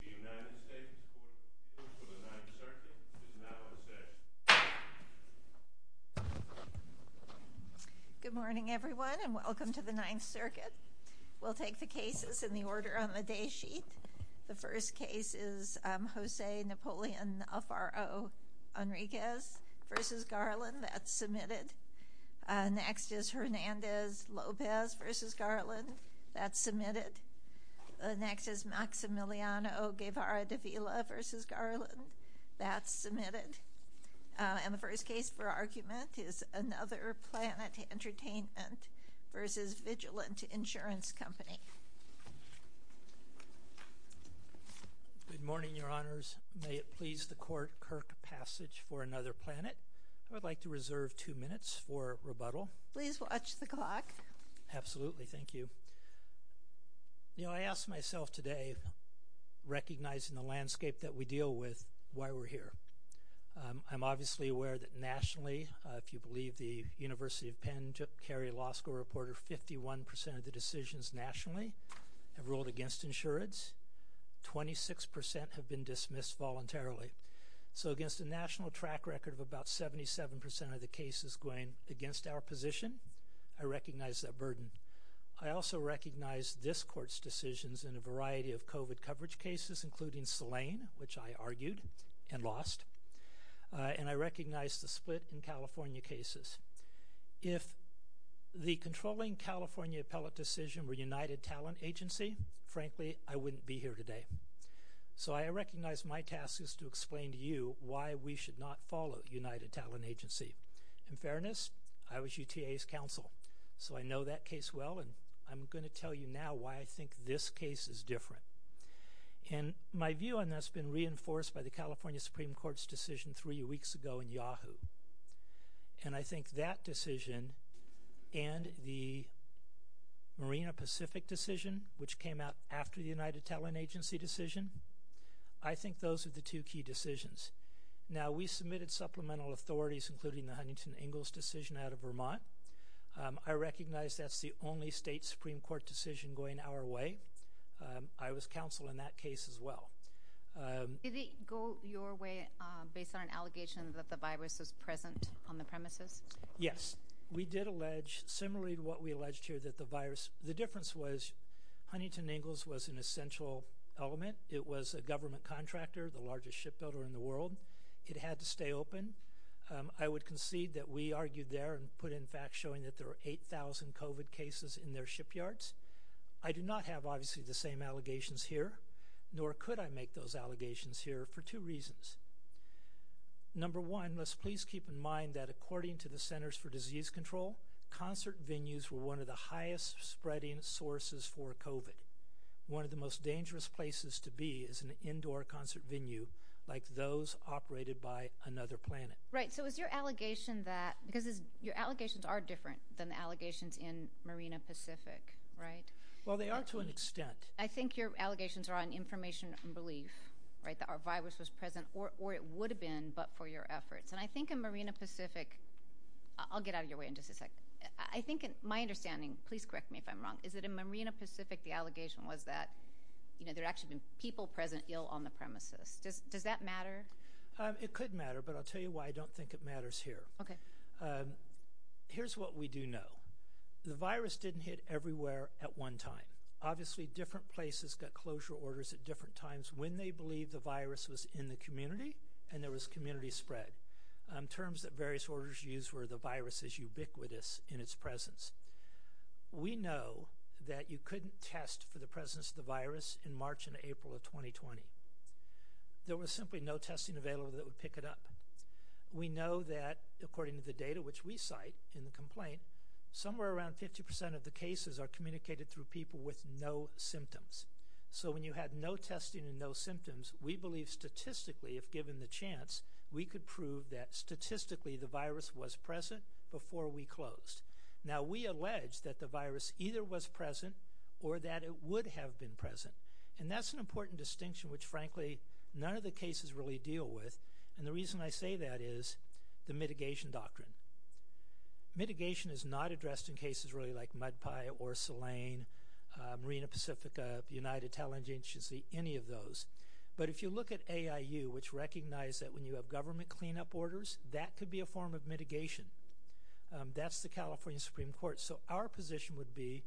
The United States Court of the Ninth Circuit is now in session. Good morning, everyone, and welcome to the Ninth Circuit. We'll take the cases in the order on the day sheet. The first case is Jose Napoleon Alfaro Enriquez v. Garland. That's submitted. Garland. That's submitted. The next is Maximiliano Guevara de Vila v. Garland. That's submitted. And the first case for argument is Another Planet Entertainment v. Vigilant Insurance Company. Good morning, Your Honors. May it please the Court, Kirk Passage for Another Planet. I'd like to reserve two minutes for rebuttal. Please watch the clock. Absolutely. Thank you. You know, I asked myself today, recognizing the landscape that we deal with, why we're here. I'm obviously aware that nationally, if you believe the University of Penn, Jip Carey Law School reporter, 51% of the decisions nationally have ruled against insurance. 26% have been dismissed voluntarily. So against a national track record of about 77% of the cases going against our position, I recognize that burden. I also recognize this Court's decisions in a variety of COVID coverage cases, including Saline, which I argued and lost. And I recognize the split in California cases. If the controlling California appellate decision were United Talent Agency, frankly, I wouldn't be here today. So I recognize my task is to explain to you why we should not follow United Talent Agency. In fairness, I was UTA's counsel. So I know that case well, and I'm going to tell you now why I think this case is different. And my view on that's been reinforced by the California Supreme Court's decision three weeks ago in Yahoo. And I think that decision and the Marina Pacific decision, which came out after the United Talent Agency decision, I think those are the two key decisions. Now, we submitted supplemental authorities, including the Huntington Ingalls decision out of Vermont. I recognize that's the only state Supreme Court decision going our way. I was counsel in that case as well. Did it go your way based on an allegation that the virus is present on the premises? Yes, we did allege, similarly to what we alleged here, that the virus, the difference was Huntington Ingalls was an essential element. It was a government contractor, the largest shipbuilder in the world. It had to stay open. I would concede that we argued there and put in fact, showing that there are 8,000 COVID cases in their shipyards. I do not have obviously the same allegations here, nor could I make those allegations here for two reasons. Number one, let's please keep in mind that according to the Centers for Disease Control, concert venues were one of the highest spreading sources for COVID. One of the most dangerous places to be is an indoor concert venue, like those operated by Another Planet. Right, so is your allegation that, because your allegations are different than the allegations in Marina Pacific, right? Well, they are to an extent. I think your allegations are on information and belief, right, that our virus was present or it would have been, but for your efforts. And I think in Marina Pacific, I'll get out of your way in just a second. I think my understanding, please correct me if I'm wrong, is that in Marina Pacific, the allegation was that, you know, there had actually been people present ill on the premises. Does that matter? It could matter, but I'll tell you why I don't think it matters here. Okay. Here's what we do know. The virus didn't hit everywhere at one time. Obviously, different places got closure orders at different times when they believed the virus was in the community and there was community spread. Terms that various orders used were the virus is ubiquitous in its presence. We know that you couldn't test for the presence of the virus in March and April of 2020. There was simply no testing available that would pick it up. We know that according to the data which we cite in the complaint, somewhere around 50% of the cases are communicated through people with no symptoms. So when you had no testing and no symptoms, we believe statistically if given the chance, we could prove that statistically the virus was present before we closed. Now, we allege that the virus either was present or that it would have been present. And that's an important distinction which frankly, none of the cases really deal with. And the reason I say that is the mitigation doctrine. Mitigation is not addressed in cases really like Mud Pie or Saline, Marina Pacifica, United Talent Agency, any of those. But if you look at AIU which recognize that when you have government cleanup orders, that could be a form of mitigation. That's the California Supreme Court. So our position would be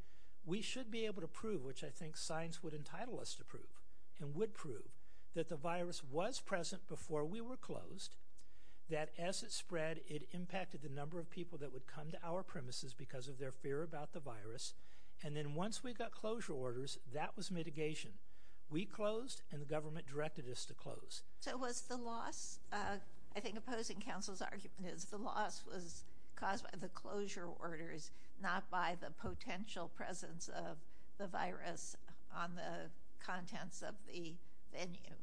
we should be able to prove which I think science would entitle us to prove and would prove that the virus was present before we were closed. That as it spread, it impacted the number of people that would come to our premises because of their fear about the virus. And then once we got closure orders, that was mitigation. We closed and the government directed us to close. So was the loss, I think opposing counsel's argument is the loss was caused by the closure orders, not by the potential presence of the virus on the contents of the venue.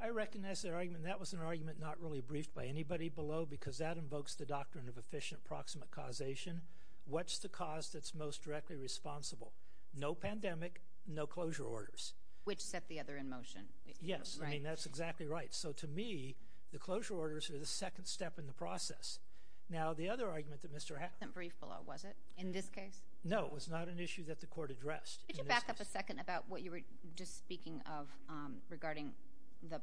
I recognize their argument. That was an argument not really briefed by anybody below because that invokes the doctrine of efficient proximate causation. What's the cause that's most directly responsible? Which set the other in motion. Yes, I mean, that's exactly right. So to me, the closure orders are the second step in the process. Now, the other argument that Mr. It wasn't briefed below, was it? In this case? No, it was not an issue that the court addressed. Could you back up a second about what you were just speaking of regarding the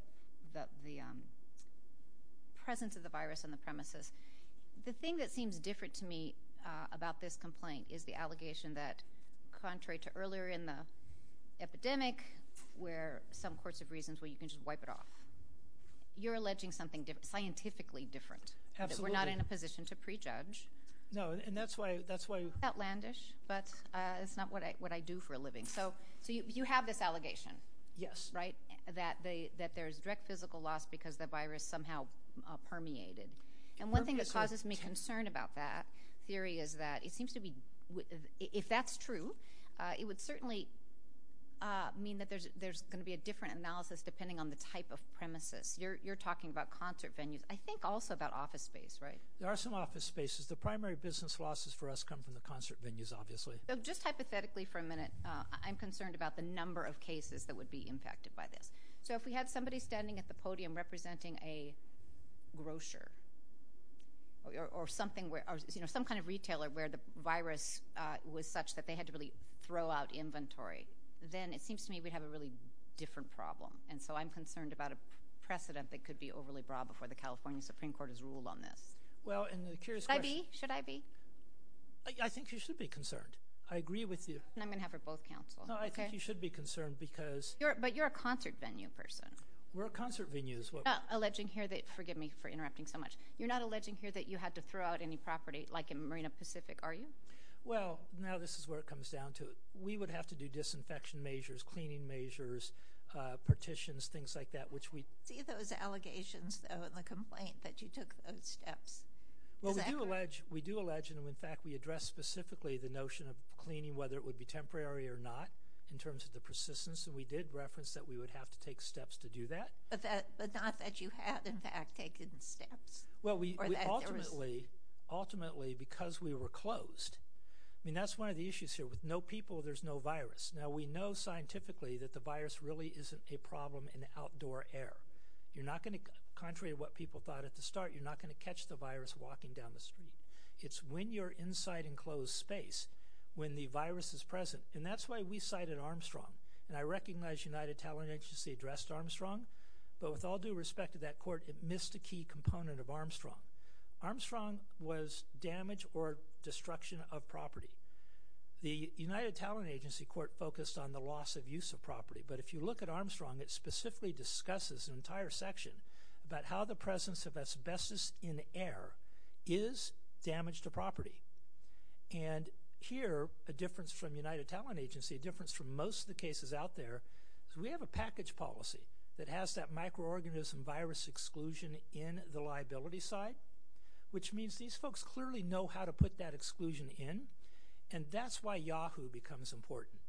presence of the virus on the premises? The thing that seems different to me about this complaint is the allegation that contrary to earlier in the epidemic where some courts have reasons where you can just wipe it off, you're alleging something scientifically different. Absolutely. We're not in a position to prejudge. No, and that's why that's why. Outlandish, but it's not what I do for a living. So you have this allegation. Yes. Right, that there's direct physical loss because the virus somehow permeated. And one thing that causes me concern about that theory is that it seems to be if that's true, it would certainly mean that there's going to be a different analysis depending on the type of premises. You're talking about concert venues. I think also about office space, right? There are some office spaces. The primary business losses for us come from the concert venues, obviously. So just hypothetically for a minute, I'm concerned about the number of cases that would be impacted by this. So if we had somebody standing at the podium representing a grocer or something, some kind of retailer where the virus was such that they had to really throw out inventory, then it seems to me we'd have a really different problem. And so I'm concerned about a precedent that could be overly broad before the California Supreme Court has ruled on this. Well, and the curious question— Should I be? Should I be? I think you should be concerned. I agree with you. And I'm going to have her both counsel. No, I think you should be concerned because— But you're a concert venue person. We're a concert venue is what— You're not alleging here that—forgive me for interrupting so much. You're not alleging here that you had to throw out any property like in Marina Pacific, are you? Well, now this is where it comes down to it. We would have to do disinfection measures, cleaning measures, partitions, things like that, which we— See those allegations, though, and the complaint that you took those steps. Well, we do allege, and in fact, we address specifically the notion of cleaning, whether it would be temporary or not in terms of the persistence. And we did reference that we would have to take steps to do that. But not that you have, in fact, taken steps. Or that there was— Ultimately, because we were closed—I mean, that's one of the issues here. With no people, there's no virus. Now, we know scientifically that the virus really isn't a problem in outdoor air. You're not going to—contrary to what people thought at the start, you're not going to catch the virus walking down the street. It's when you're inside enclosed space when the virus is present. And that's why we cited Armstrong. And I recognize United Talent Agency addressed Armstrong. But with all due respect to that court, it missed a key component of Armstrong. Armstrong was damage or destruction of property. The United Talent Agency court focused on the loss of use of property. But if you look at Armstrong, it specifically discusses an entire section about how the presence of asbestos in air is damage to property. And here, a difference from United Talent Agency, a difference from most of the cases out there, is we have a package policy that has that microorganism virus exclusion in the liability side, which means these folks clearly know how to put that exclusion in. And that's why Yahoo becomes important.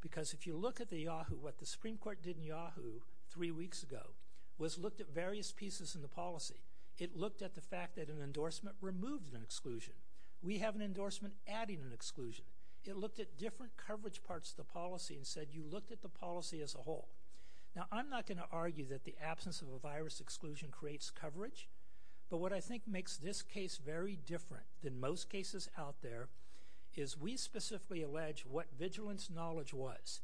Because if you look at the Yahoo, what the Supreme Court did in Yahoo three weeks ago was looked at various pieces in the policy. It looked at the fact that an endorsement removes an exclusion. We have an endorsement adding an exclusion. It looked at different coverage parts of the policy and said, you looked at the policy as a whole. Now, I'm not going to argue that the absence of a virus exclusion creates coverage. But what I think makes this case very different than most cases out there is we specifically allege what vigilance knowledge was.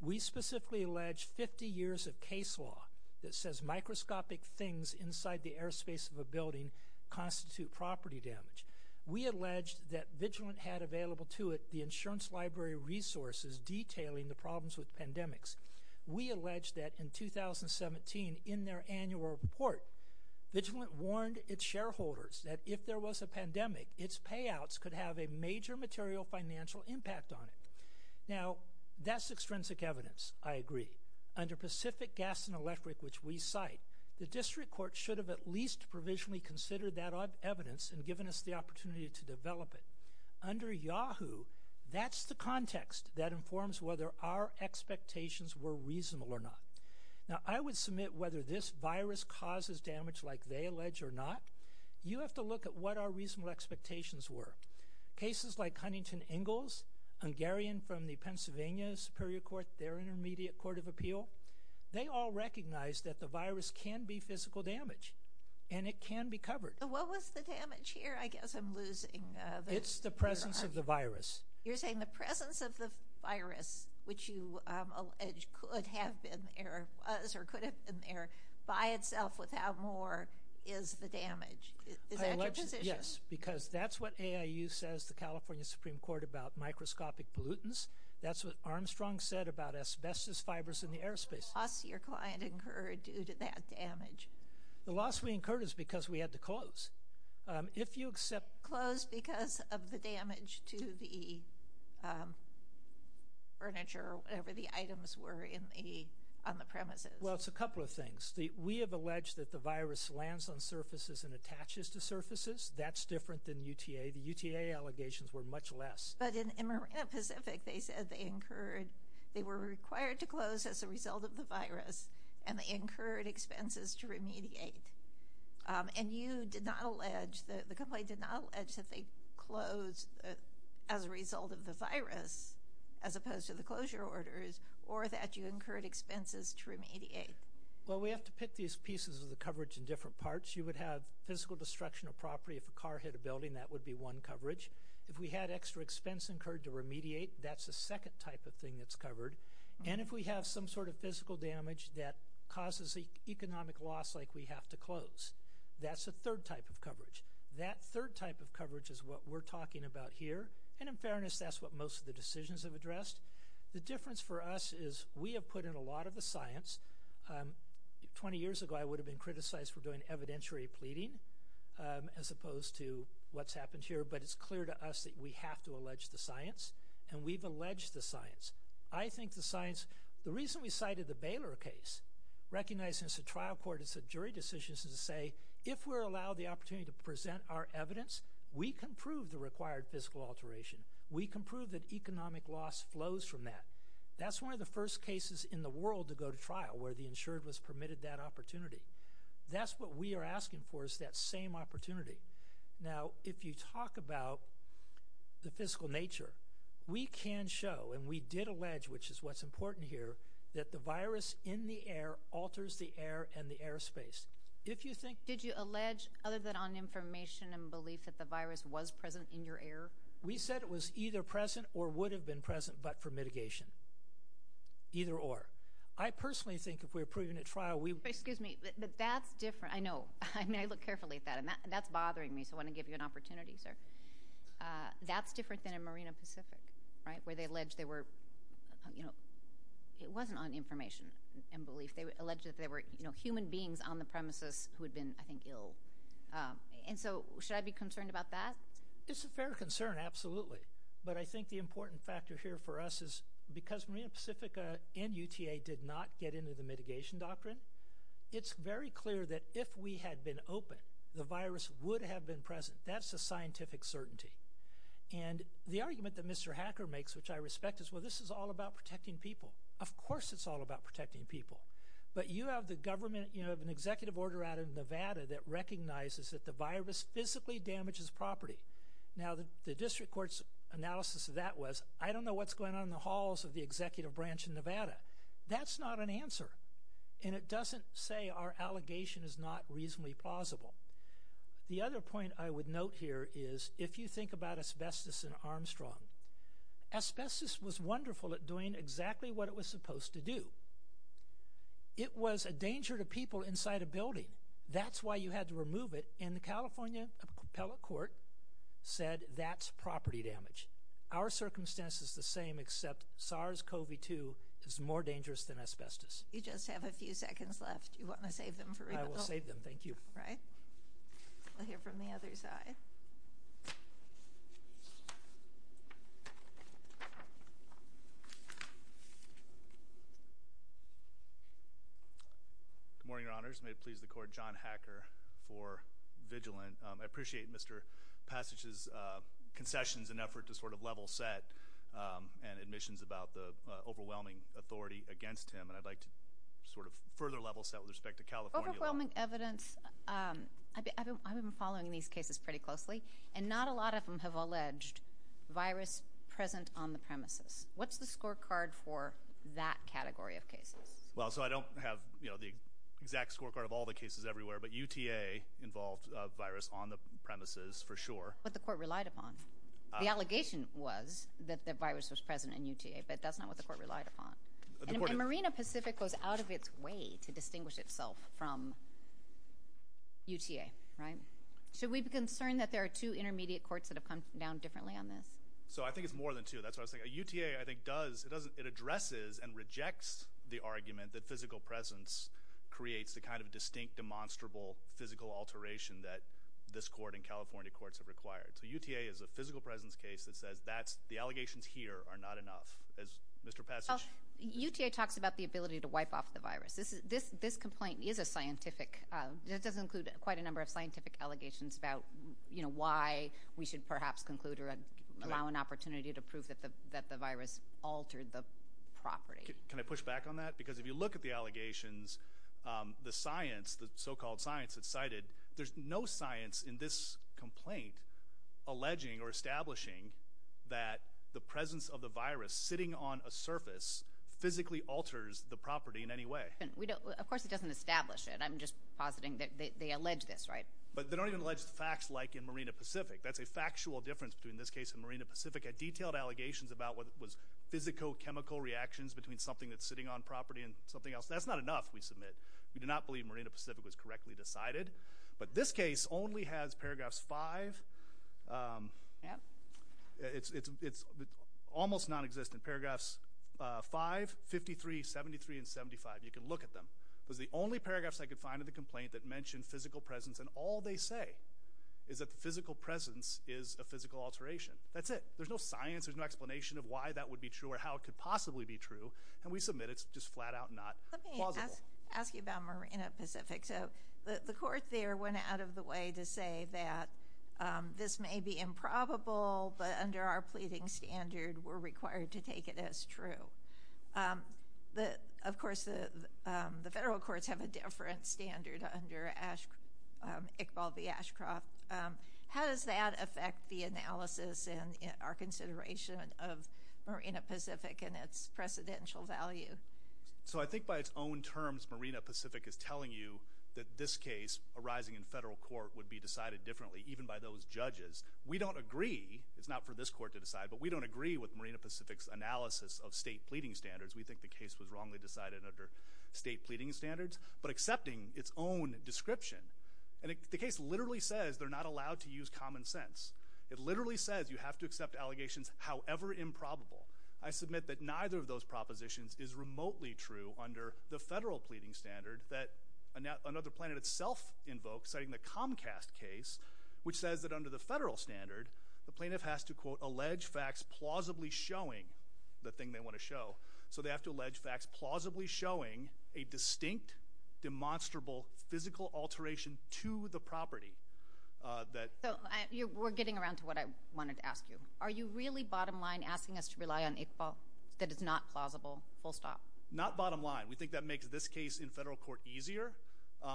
We specifically allege 50 years of case law that says microscopic things inside the airspace of a building constitute property damage. We allege that Vigilant had available to it the insurance library resources detailing the problems with pandemics. We allege that in 2017 in their annual report, Vigilant warned its shareholders that if there was a pandemic, its payouts could have a major material financial impact on it. Now, that's extrinsic evidence, I agree. Under Pacific Gas and Electric, which we cite, the district court should have at least provisionally considered that evidence and given us the opportunity to develop it. Under Yahoo, that's the context that informs whether our expectations were reasonable or not. Now, I would submit whether this virus causes damage like they allege or not. You have to look at what our reasonable expectations were. Cases like Huntington Ingalls, Hungarian from the Pennsylvania Superior Court, their intermediate court of appeal, they all recognize that the virus can be physical damage and it can be covered. What was the damage here? I guess I'm losing. It's the presence of the virus. You're saying the presence of the virus, which you allege could have been there by itself without more, is the damage. Is that your position? Yes, because that's what AIU says, the California Supreme Court, about microscopic pollutants. That's what Armstrong said about asbestos fibers in the airspace. What loss did your client incur due to that damage? The loss we incurred is because we had to close. If you accept... Closed because of the damage to the furniture or whatever the items were on the premises. Well, it's a couple of things. We have alleged that the virus lands on surfaces and attaches to surfaces. That's different than UTA. The UTA allegations were much less. But in Marina Pacific, they said they were required to close as a result of the virus and they incurred expenses to remediate. And you did not allege, the company did not allege, that they closed as a result of the virus as opposed to the closure orders or that you incurred expenses to remediate. Well, we have to pick these pieces of the coverage in different parts. You would have physical destruction of property. If a car hit a building, that would be one coverage. If we had extra expense incurred to remediate, that's the second type of thing that's covered. And if we have some sort of physical damage that causes economic loss, like we have to close, that's the third type of coverage. That third type of coverage is what we're talking about here. And in fairness, that's what most of the decisions have addressed. The difference for us is we have put in a lot of the science. Twenty years ago, I would have been criticized for doing evidentiary pleading as opposed to what's happened here. But it's clear to us that we have to allege the science and we've alleged the science. I think the science – the reason we cited the Baylor case, recognizing it's a trial court, it's a jury decision, is to say, if we're allowed the opportunity to present our evidence, we can prove the required physical alteration. We can prove that economic loss flows from that. That's one of the first cases in the world to go to trial where the insured was permitted that opportunity. That's what we are asking for is that same opportunity. Now, if you talk about the physical nature, we can show, and we did allege, which is what's important here, that the virus in the air alters the air and the airspace. If you think – Did you allege, other than on information and belief, that the virus was present in your air? We said it was either present or would have been present, but for mitigation. Either or. I personally think if we're proving at trial, we – Excuse me, but that's different. I know. I mean, I look carefully at that. And that's bothering me, so I want to give you an opportunity, sir. That's different than in Marina Pacific, right, where they allege they were – It wasn't on information and belief. They alleged that there were human beings on the premises who had been, I think, ill. And so should I be concerned about that? It's a fair concern, absolutely. But I think the important factor here for us is because Marina Pacific and UTA did not get into the mitigation doctrine, it's very clear that if we had been open, the virus would have been present. That's a scientific certainty. And the argument that Mr. Hacker makes, which I respect, is, well, this is all about protecting people. Of course it's all about protecting people. But you have the government – you have an executive order out of Nevada that recognizes that the virus physically damages property. Now, the district court's analysis of that was I don't know what's going on in the halls of the executive branch in Nevada. That's not an answer. And it doesn't say our allegation is not reasonably plausible. The other point I would note here is if you think about asbestos in Armstrong, asbestos was wonderful at doing exactly what it was supposed to do. It was a danger to people inside a building. That's why you had to remove it. And the California appellate court said that's property damage. Our circumstance is the same except SARS-CoV-2 is more dangerous than asbestos. You just have a few seconds left. You want to save them for rebuild? We'll hear from the other side. Good morning, Your Honors. May it please the court, John Hacker for Vigilant. I appreciate Mr. Passage's concessions and effort to sort of level set and admissions about the overwhelming authority against him. And I'd like to sort of further level set with respect to California law. Overwhelming evidence. I've been following these cases pretty closely and not a lot of them have alleged virus present on the premises. What's the scorecard for that category of cases? Well, so I don't have, you know, the exact scorecard of all the cases everywhere, but UTA involved a virus on the premises for sure. What the court relied upon. The allegation was that the virus was present in UTA, but that's not what the court relied upon. And Marina Pacific goes out of its way to distinguish itself from UTA, right? Should we be concerned that there are two intermediate courts that have come down differently on this? So I think it's more than two. That's what I was thinking. UTA, I think, does, it addresses and rejects the argument that physical presence creates the kind of distinct, demonstrable physical alteration that this court and California courts have required. So UTA is a physical presence case that says the allegations here are not enough. As Mr. Passage... Well, UTA talks about the ability to wipe off the virus. This complaint is a scientific, it does include quite a number of scientific allegations about, you know, why we should perhaps conclude or allow an opportunity to prove that the virus altered the property. Can I push back on that? Because if you look at the allegations, the science, the so-called science that's cited, there's no science in this complaint alleging or establishing that the presence of the virus sitting on a surface physically alters the property in any way. Of course, it doesn't establish it. I'm just positing that they allege this, right? But they don't even allege the facts like in Marina Pacific. That's a factual difference between this case and Marina Pacific. I detailed allegations about what was physicochemical reactions between something that's sitting on property and something else. That's not enough, we submit. We do not believe Marina Pacific was correctly decided. But this case only has paragraphs five. Yeah. It's almost nonexistent. Paragraphs five, 53, 73, and 75. You can look at them. It was the only paragraphs I could find in the complaint that mentioned physical presence. And all they say is that the physical presence is a physical alteration. That's it. There's no science, there's no explanation of why that would be true or how it could possibly be true. And we submit it's just flat out not plausible. Let me ask you about Marina Pacific. So the court there went out of the way to say that this may be improbable, but under our pleading standard, we're required to take it as true. Of course, the federal courts have a different standard under Iqbal V. Ashcroft. How does that affect the analysis and our consideration of Marina Pacific and its precedential value? So I think by its own terms, Marina Pacific is telling you that this case arising in federal court would be decided differently, even by those judges. We don't agree, it's not for this court to decide, but we don't agree with Marina Pacific's analysis of state pleading standards. We think the case was wrongly decided under state pleading standards, but accepting its own description. And the case literally says they're not allowed to use common sense. It literally says you have to accept allegations however improbable. I submit that neither of those propositions is remotely true under the federal pleading standard that Another Planet itself invokes, citing the Comcast case, which says that under the federal standard, the plaintiff has to, quote, So they have to allege facts plausibly showing a distinct, demonstrable, physical alteration to the property. So we're getting around to what I wanted to ask you. Are you really bottom line asking us to rely on Iqbal that is not plausible, full stop? Not bottom line. We think that makes this case in federal court easier,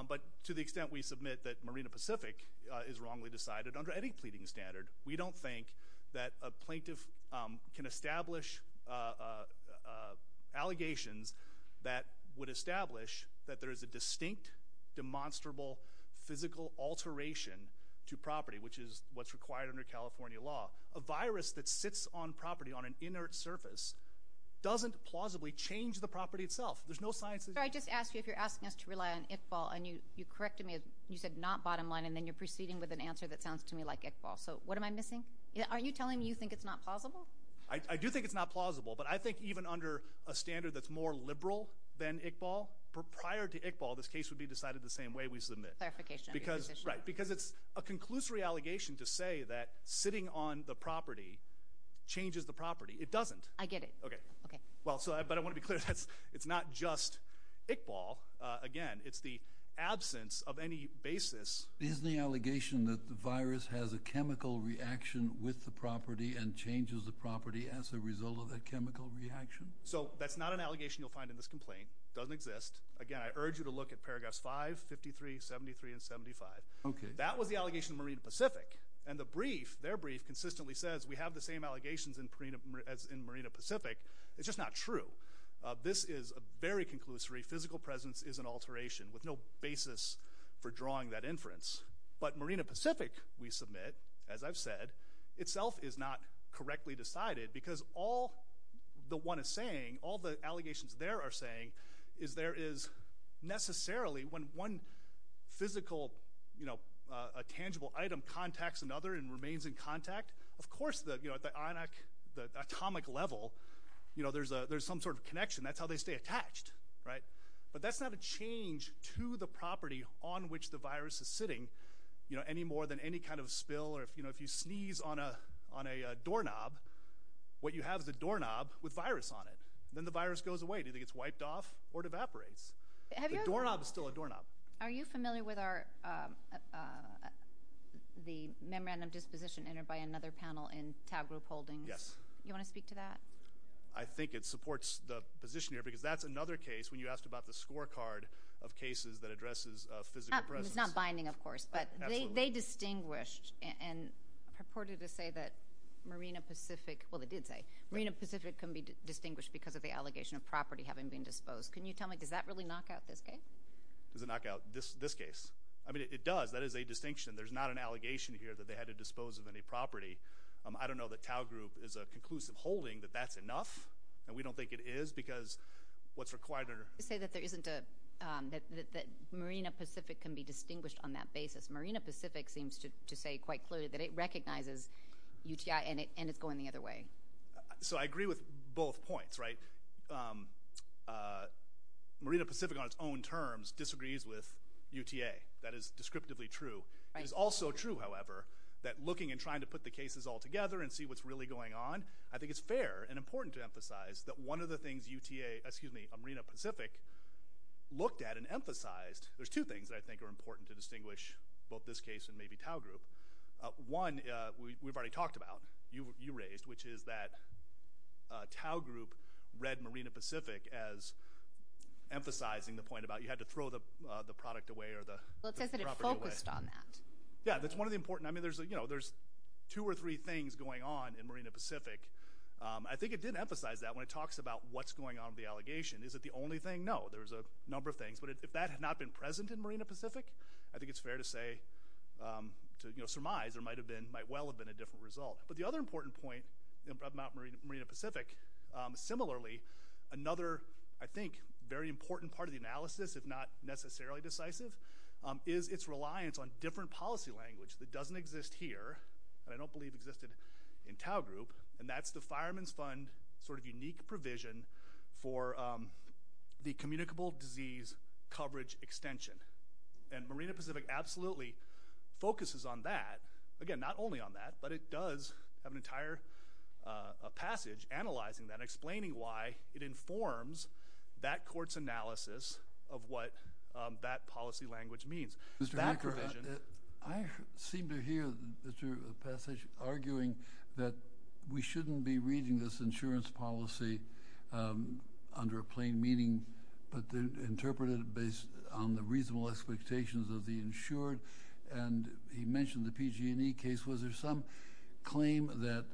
but to the extent we submit that Marina Pacific is wrongly decided under any pleading standard, we don't think that a plaintiff can establish allegations that would establish that there is a distinct, demonstrable, physical alteration to property, which is what's required under California law. A virus that sits on property on an inert surface doesn't plausibly change the property itself. There's no science. I just asked you if you're asking us to rely on Iqbal and you corrected me. You said not bottom line and then you're proceeding with an answer that sounds to me like Iqbal. So what am I missing? Are you telling me you think it's not plausible? I do think it's not plausible, but I think even under a standard that's more liberal than Iqbal, prior to Iqbal this case would be decided the same way we submit. Clarification of your position. Because it's a conclusory allegation to say that sitting on the property changes the property. It doesn't. I get it. But I want to be clear, it's not just Iqbal. Again, it's the absence of any basis. Is the allegation that the virus has a chemical reaction with the property and changes the property as a result of that chemical reaction? So that's not an allegation you'll find in this complaint. It doesn't exist. Again, I urge you to look at paragraphs 5, 53, 73 and 75. That was the allegation of Marina Pacific and their brief consistently says we have the same allegations as in Marina Pacific. It's just not true. This is a very conclusory physical presence is an alteration with no basis for drawing that inference. But Marina Pacific, we submit, as I've said, itself is not correctly decided because all the one is saying, all the allegations there are saying is there is necessarily when one physical, a tangible item contacts another and remains in contact, of course at the atomic level there's some sort of connection. That's how they stay attached. But that's not a change to the property on which the virus is sitting. Any more than any kind of spill or if you sneeze on a doorknob, what you have is a doorknob with virus on it. Then the virus goes away. It either gets wiped off or it evaporates. The doorknob is still a doorknob. Are you familiar with the memorandum disposition entered by another panel in Taub Group Holdings? Yes. You want to speak to that? I think it supports the position here because that's another case when you asked about the scorecard of cases that addresses physical presence. It's not binding, of course, but they distinguished and purported to say that Marina Pacific, well, they did say, Marina Pacific can be distinguished because of the allegation of property having been disposed. Can you tell me, does that really knock out this case? Does it knock out this case? It does. That is a distinction. There's not an allegation here that they had to dispose of any property. I don't know that Taub Group is a conclusive holding that that's enough. We don't think it is because what's required are... You say that there isn't a... Marina Pacific seems to say quite clearly that it recognizes UTI and it's going the other way. I agree with both points. Marina Pacific, on its own terms, disagrees with UTA. That is descriptively true. It is also true, however, that looking and trying to put the cases all together and see what's really going on, I think it's fair and important to emphasize that one of the things a Marina Pacific looked at and emphasized... There's two things that I think are important to distinguish both this case and maybe Taub Group. One, we've already talked about, you raised, which is that Taub Group read Marina Pacific as emphasizing the point about you had to throw the product away or the property away. It says that it focused on that. Yeah, that's one of the important... I mean, there's two or three things going on in Marina Pacific. I think it did emphasize that when it talks about Is it the only thing? No, there's a number of things. But if that had not been present in Marina Pacific, I think it's fair to say, to surmise, there might well have been a different result. But the other important point about Marina Pacific, similarly, another, I think, very important part of the analysis, if not necessarily decisive, is its reliance on different policy language that doesn't exist here and I don't believe existed in Taub Group. And that's the Fireman's Fund sort of unique provision for the communicable disease coverage extension. And Marina Pacific absolutely focuses on that. Again, not only on that, but it does have an entire passage analyzing that and explaining why it informs that court's analysis of what that policy language means. That provision... I seem to hear, Mr. Passage, arguing that we shouldn't be reading this insurance policy under a plain meaning, but interpret it based on the reasonable expectations of the insured. And he mentioned the PG&E case. Was there some claim that...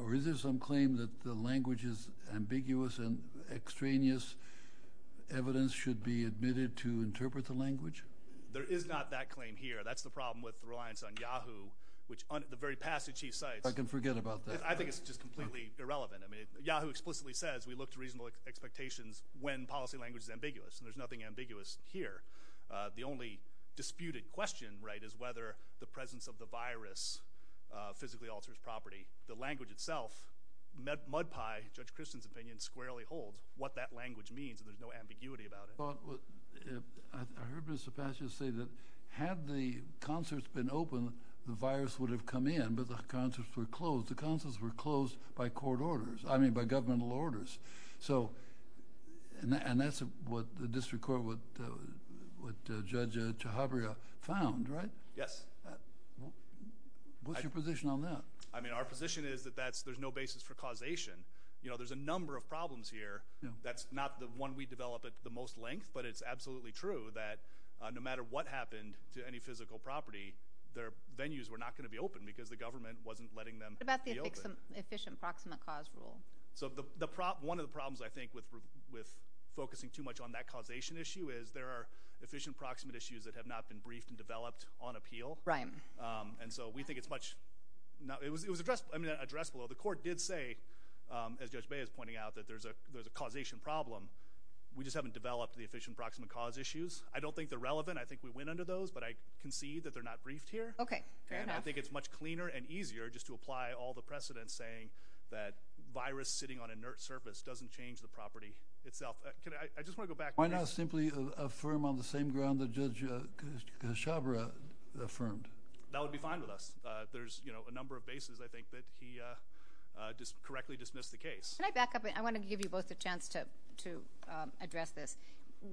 Or is there some claim that the language is ambiguous and extraneous? Evidence should be admitted to interpret the language? There is not that claim here. That's the problem with reliance on Yahoo, which the very passage he cites... I can forget about that. I think it's just completely irrelevant. I mean, Yahoo explicitly says we look to reasonable expectations when policy language is ambiguous. And there's nothing ambiguous here. The only disputed question, right, is whether the presence of the virus physically alters property. The language itself, mud pie, Judge Christen's opinion squarely holds what that language means, and there's no ambiguity about it. I heard Mr. Passage say that had the concerts been open, the virus would have come in, but the concerts were closed. The concerts were closed by court orders. I mean, by governmental orders. And that's what the district court, what Judge Chhabria found, right? Yes. What's your position on that? I mean, our position is that there's no basis for causation. You know, there's a number of problems here. That's not the one we develop at the most length, but it's absolutely true that no matter what happened to any physical property, their venues were not going to be open because the government wasn't letting them be open. What about the efficient proximate cause rule? So one of the problems, I think, with focusing too much on that causation issue is there are efficient proximate issues that have not been briefed and developed on appeal. Right. And so we think it's much... It was addressed below. The court did say, as Judge Bey is pointing out, that there's a causation problem. We just haven't developed the efficient proximate cause issues. I don't think they're relevant. I think we went under those, but I concede that they're not briefed here. Okay, fair enough. And I think it's much cleaner and easier just to apply all the precedents saying that virus sitting on inert surface doesn't change the property itself. I just want to go back to... Why not simply affirm on the same ground that Judge Kshabra affirmed? That would be fine with us. There's a number of bases, I think, that he correctly dismissed the case. Can I back up? I want to give you both a chance to address this.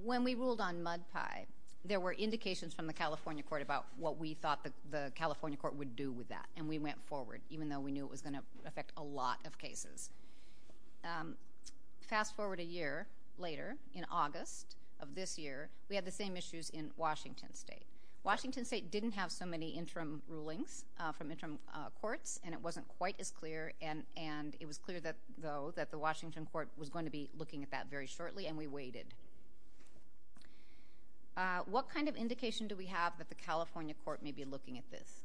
When we ruled on mud pie, there were indications from the California court about what we thought the California court would do with that, and we went forward. Even though we knew it was going to affect a lot of cases. Fast forward a year later, in August of this year, we had the same issues in Washington state. Washington state didn't have so many interim rulings from interim courts, and it wasn't quite as clear, and it was clear, though, that the Washington court was going to be looking at that very shortly, and we waited. What kind of indication do we have that the California court may be looking at this?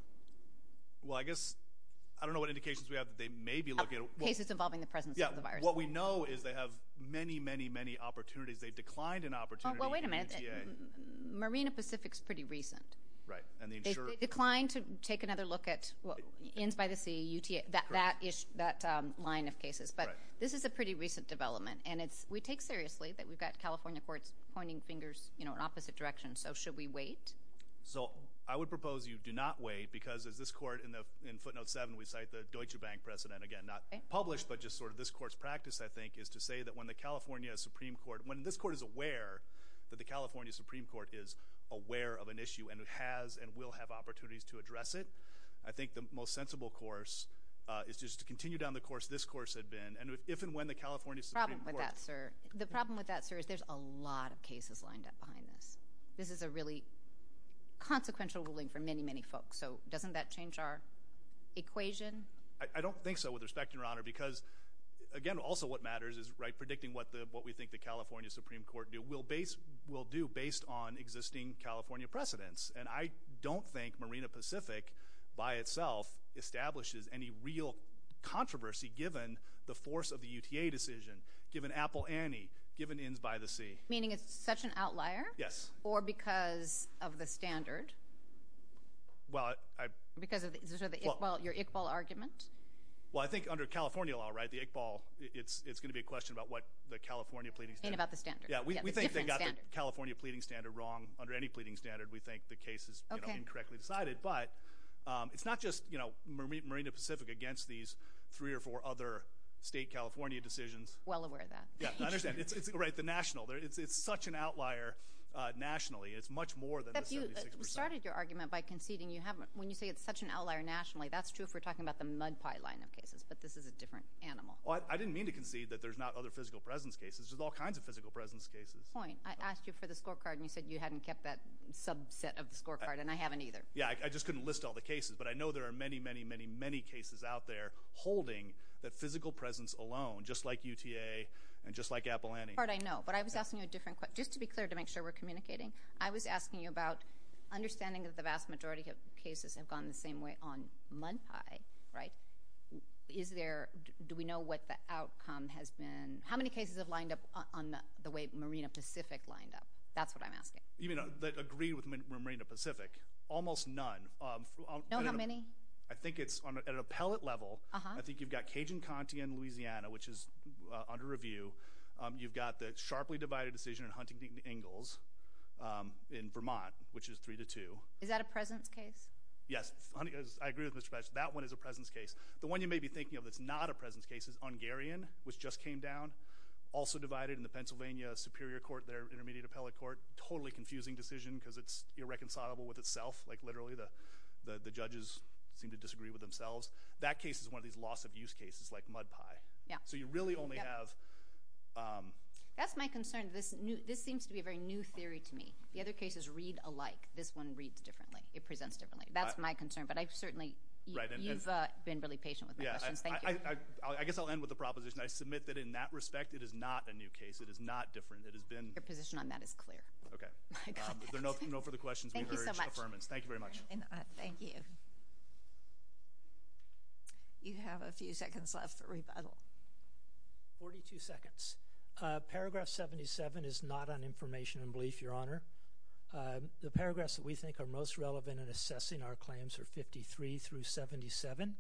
I don't know what indications we have that they may be looking at it. Cases involving the presence of the virus. What we know is they have many, many opportunities. They declined an opportunity in UTA. Marina Pacific is pretty recent. They declined to take another look at Inns-by-the-Sea, UTA, that line of cases, but this is a pretty recent development. We take seriously that we've got California courts pointing fingers in opposite directions, so should we wait? I would propose you do not wait because as this court, in footnote seven, we cite the Deutsche Bank precedent, again, not published, but just sort of this court's practice, I think, is to say that when the California Supreme Court, when this court is aware that the California Supreme Court is aware of an issue and has and will have opportunities to address it, I think the most sensible course is just to continue down the course this course had been, and if and when the California Supreme Court... The problem with that, sir, is there's a lot of cases lined up behind this. This is a really consequential ruling for many, many folks, so doesn't that change our equation? I don't think so, with respect, Your Honor, because, again, also what matters is predicting what we think the California Supreme Court will do based on existing California precedents, and I don't think Marina Pacific, by itself, establishes any real controversy given the force of the UTA decision, given Apple Annie, given Inns-by-the-Sea. Meaning it's such an outlier? Yes. Or because of the standard? Well, I... Because of your Iqbal argument? Well, I think under California law, right, the Iqbal, it's going to be a question about what the California pleading standard... And about the standard. Yeah, we think they got the California pleading standard wrong under any pleading standard. We think the case is incorrectly decided, but it's not just Marina Pacific against these three or four other state California decisions. Well aware of that. Yeah, I understand. Right, the national. It's such an outlier nationally. It's much more than the 76%. But you started your argument by conceding you haven't... When you say it's such an outlier nationally, that's true if we're talking about the mud pie line of cases, but this is a different animal. Well, I didn't mean to concede that there's not other physical presence cases. There's all kinds of physical presence cases. Point. I asked you for the scorecard and you said you hadn't kept that subset of the scorecard, and I haven't either. Yeah, I just couldn't list all the cases, but I know there are many, many, many, many cases out there holding that physical presence alone, just like UTA and just like Apple Annie. That's the part I know, but I was asking you a different question. Just to be clear to make sure we're communicating, I was asking you about understanding that the vast majority of cases have gone the same way on mud pie, right? Do we know what the outcome has been? How many cases have lined up on the way Marina Pacific lined up? That's what I'm asking. Even though I agree with Marina Pacific, almost none. Know how many? I think it's on an appellate level. I think you've got Cajun Conti in Louisiana, which is under review. You've got the sharply divided decision in Huntington Ingalls in Vermont, which is three to two. Is that a presence case? Yes. I agree with Mr. Patchett. That one is a presence case. The one you may be thinking of that's not a presence case is Ungarian, which just came down. Also divided in the Pennsylvania Superior Court, their intermediate appellate court. Totally confusing decision because it's irreconcilable with itself. Literally, the judges seem to disagree with themselves. That case is one of these loss of use cases like mud pie. You really only have... That's my concern. This seems to be a very new theory to me. The other cases read alike. This one reads differently. It presents differently. That's my concern, but I've certainly... You've been really patient with my questions. Thank you. I guess I'll end with the proposition. I submit that in that respect, it is not a new case. It is not different. It has been... Your position on that is clear. Okay. There are no further questions. Thank you so much. Thank you very much. Thank you. You have a few seconds left for rebuttal. 42 seconds. Paragraph 77 is not on information and belief, Your Honor. The paragraphs that we think are most relevant in assessing our claims are 53 through 77.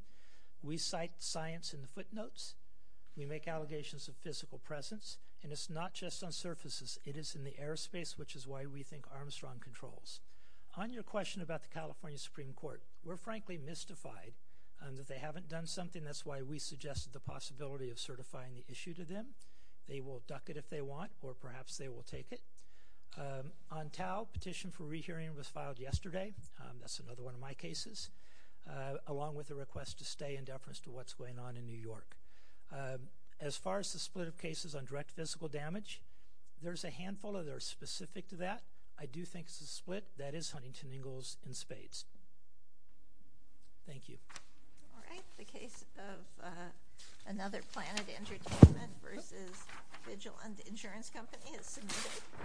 We cite science in the footnotes. We make allegations of physical presence and it's not just on surfaces. It is in the airspace which is why we think Armstrong controls. On your question about the California Supreme Court, we're frankly mystified that they haven't done something. That's why we suggested the possibility of certifying the issue to them. They will duck it if they want or perhaps they will take it. On Tau, petition for rehearing was filed yesterday. That's another one of my cases along with a request to stay in deference to what's going on in New York. As far as the split of cases on direct physical damage, there's a handful that are specific to that. I do think it's a split. That is Huntington Ingalls in spades. Thank you.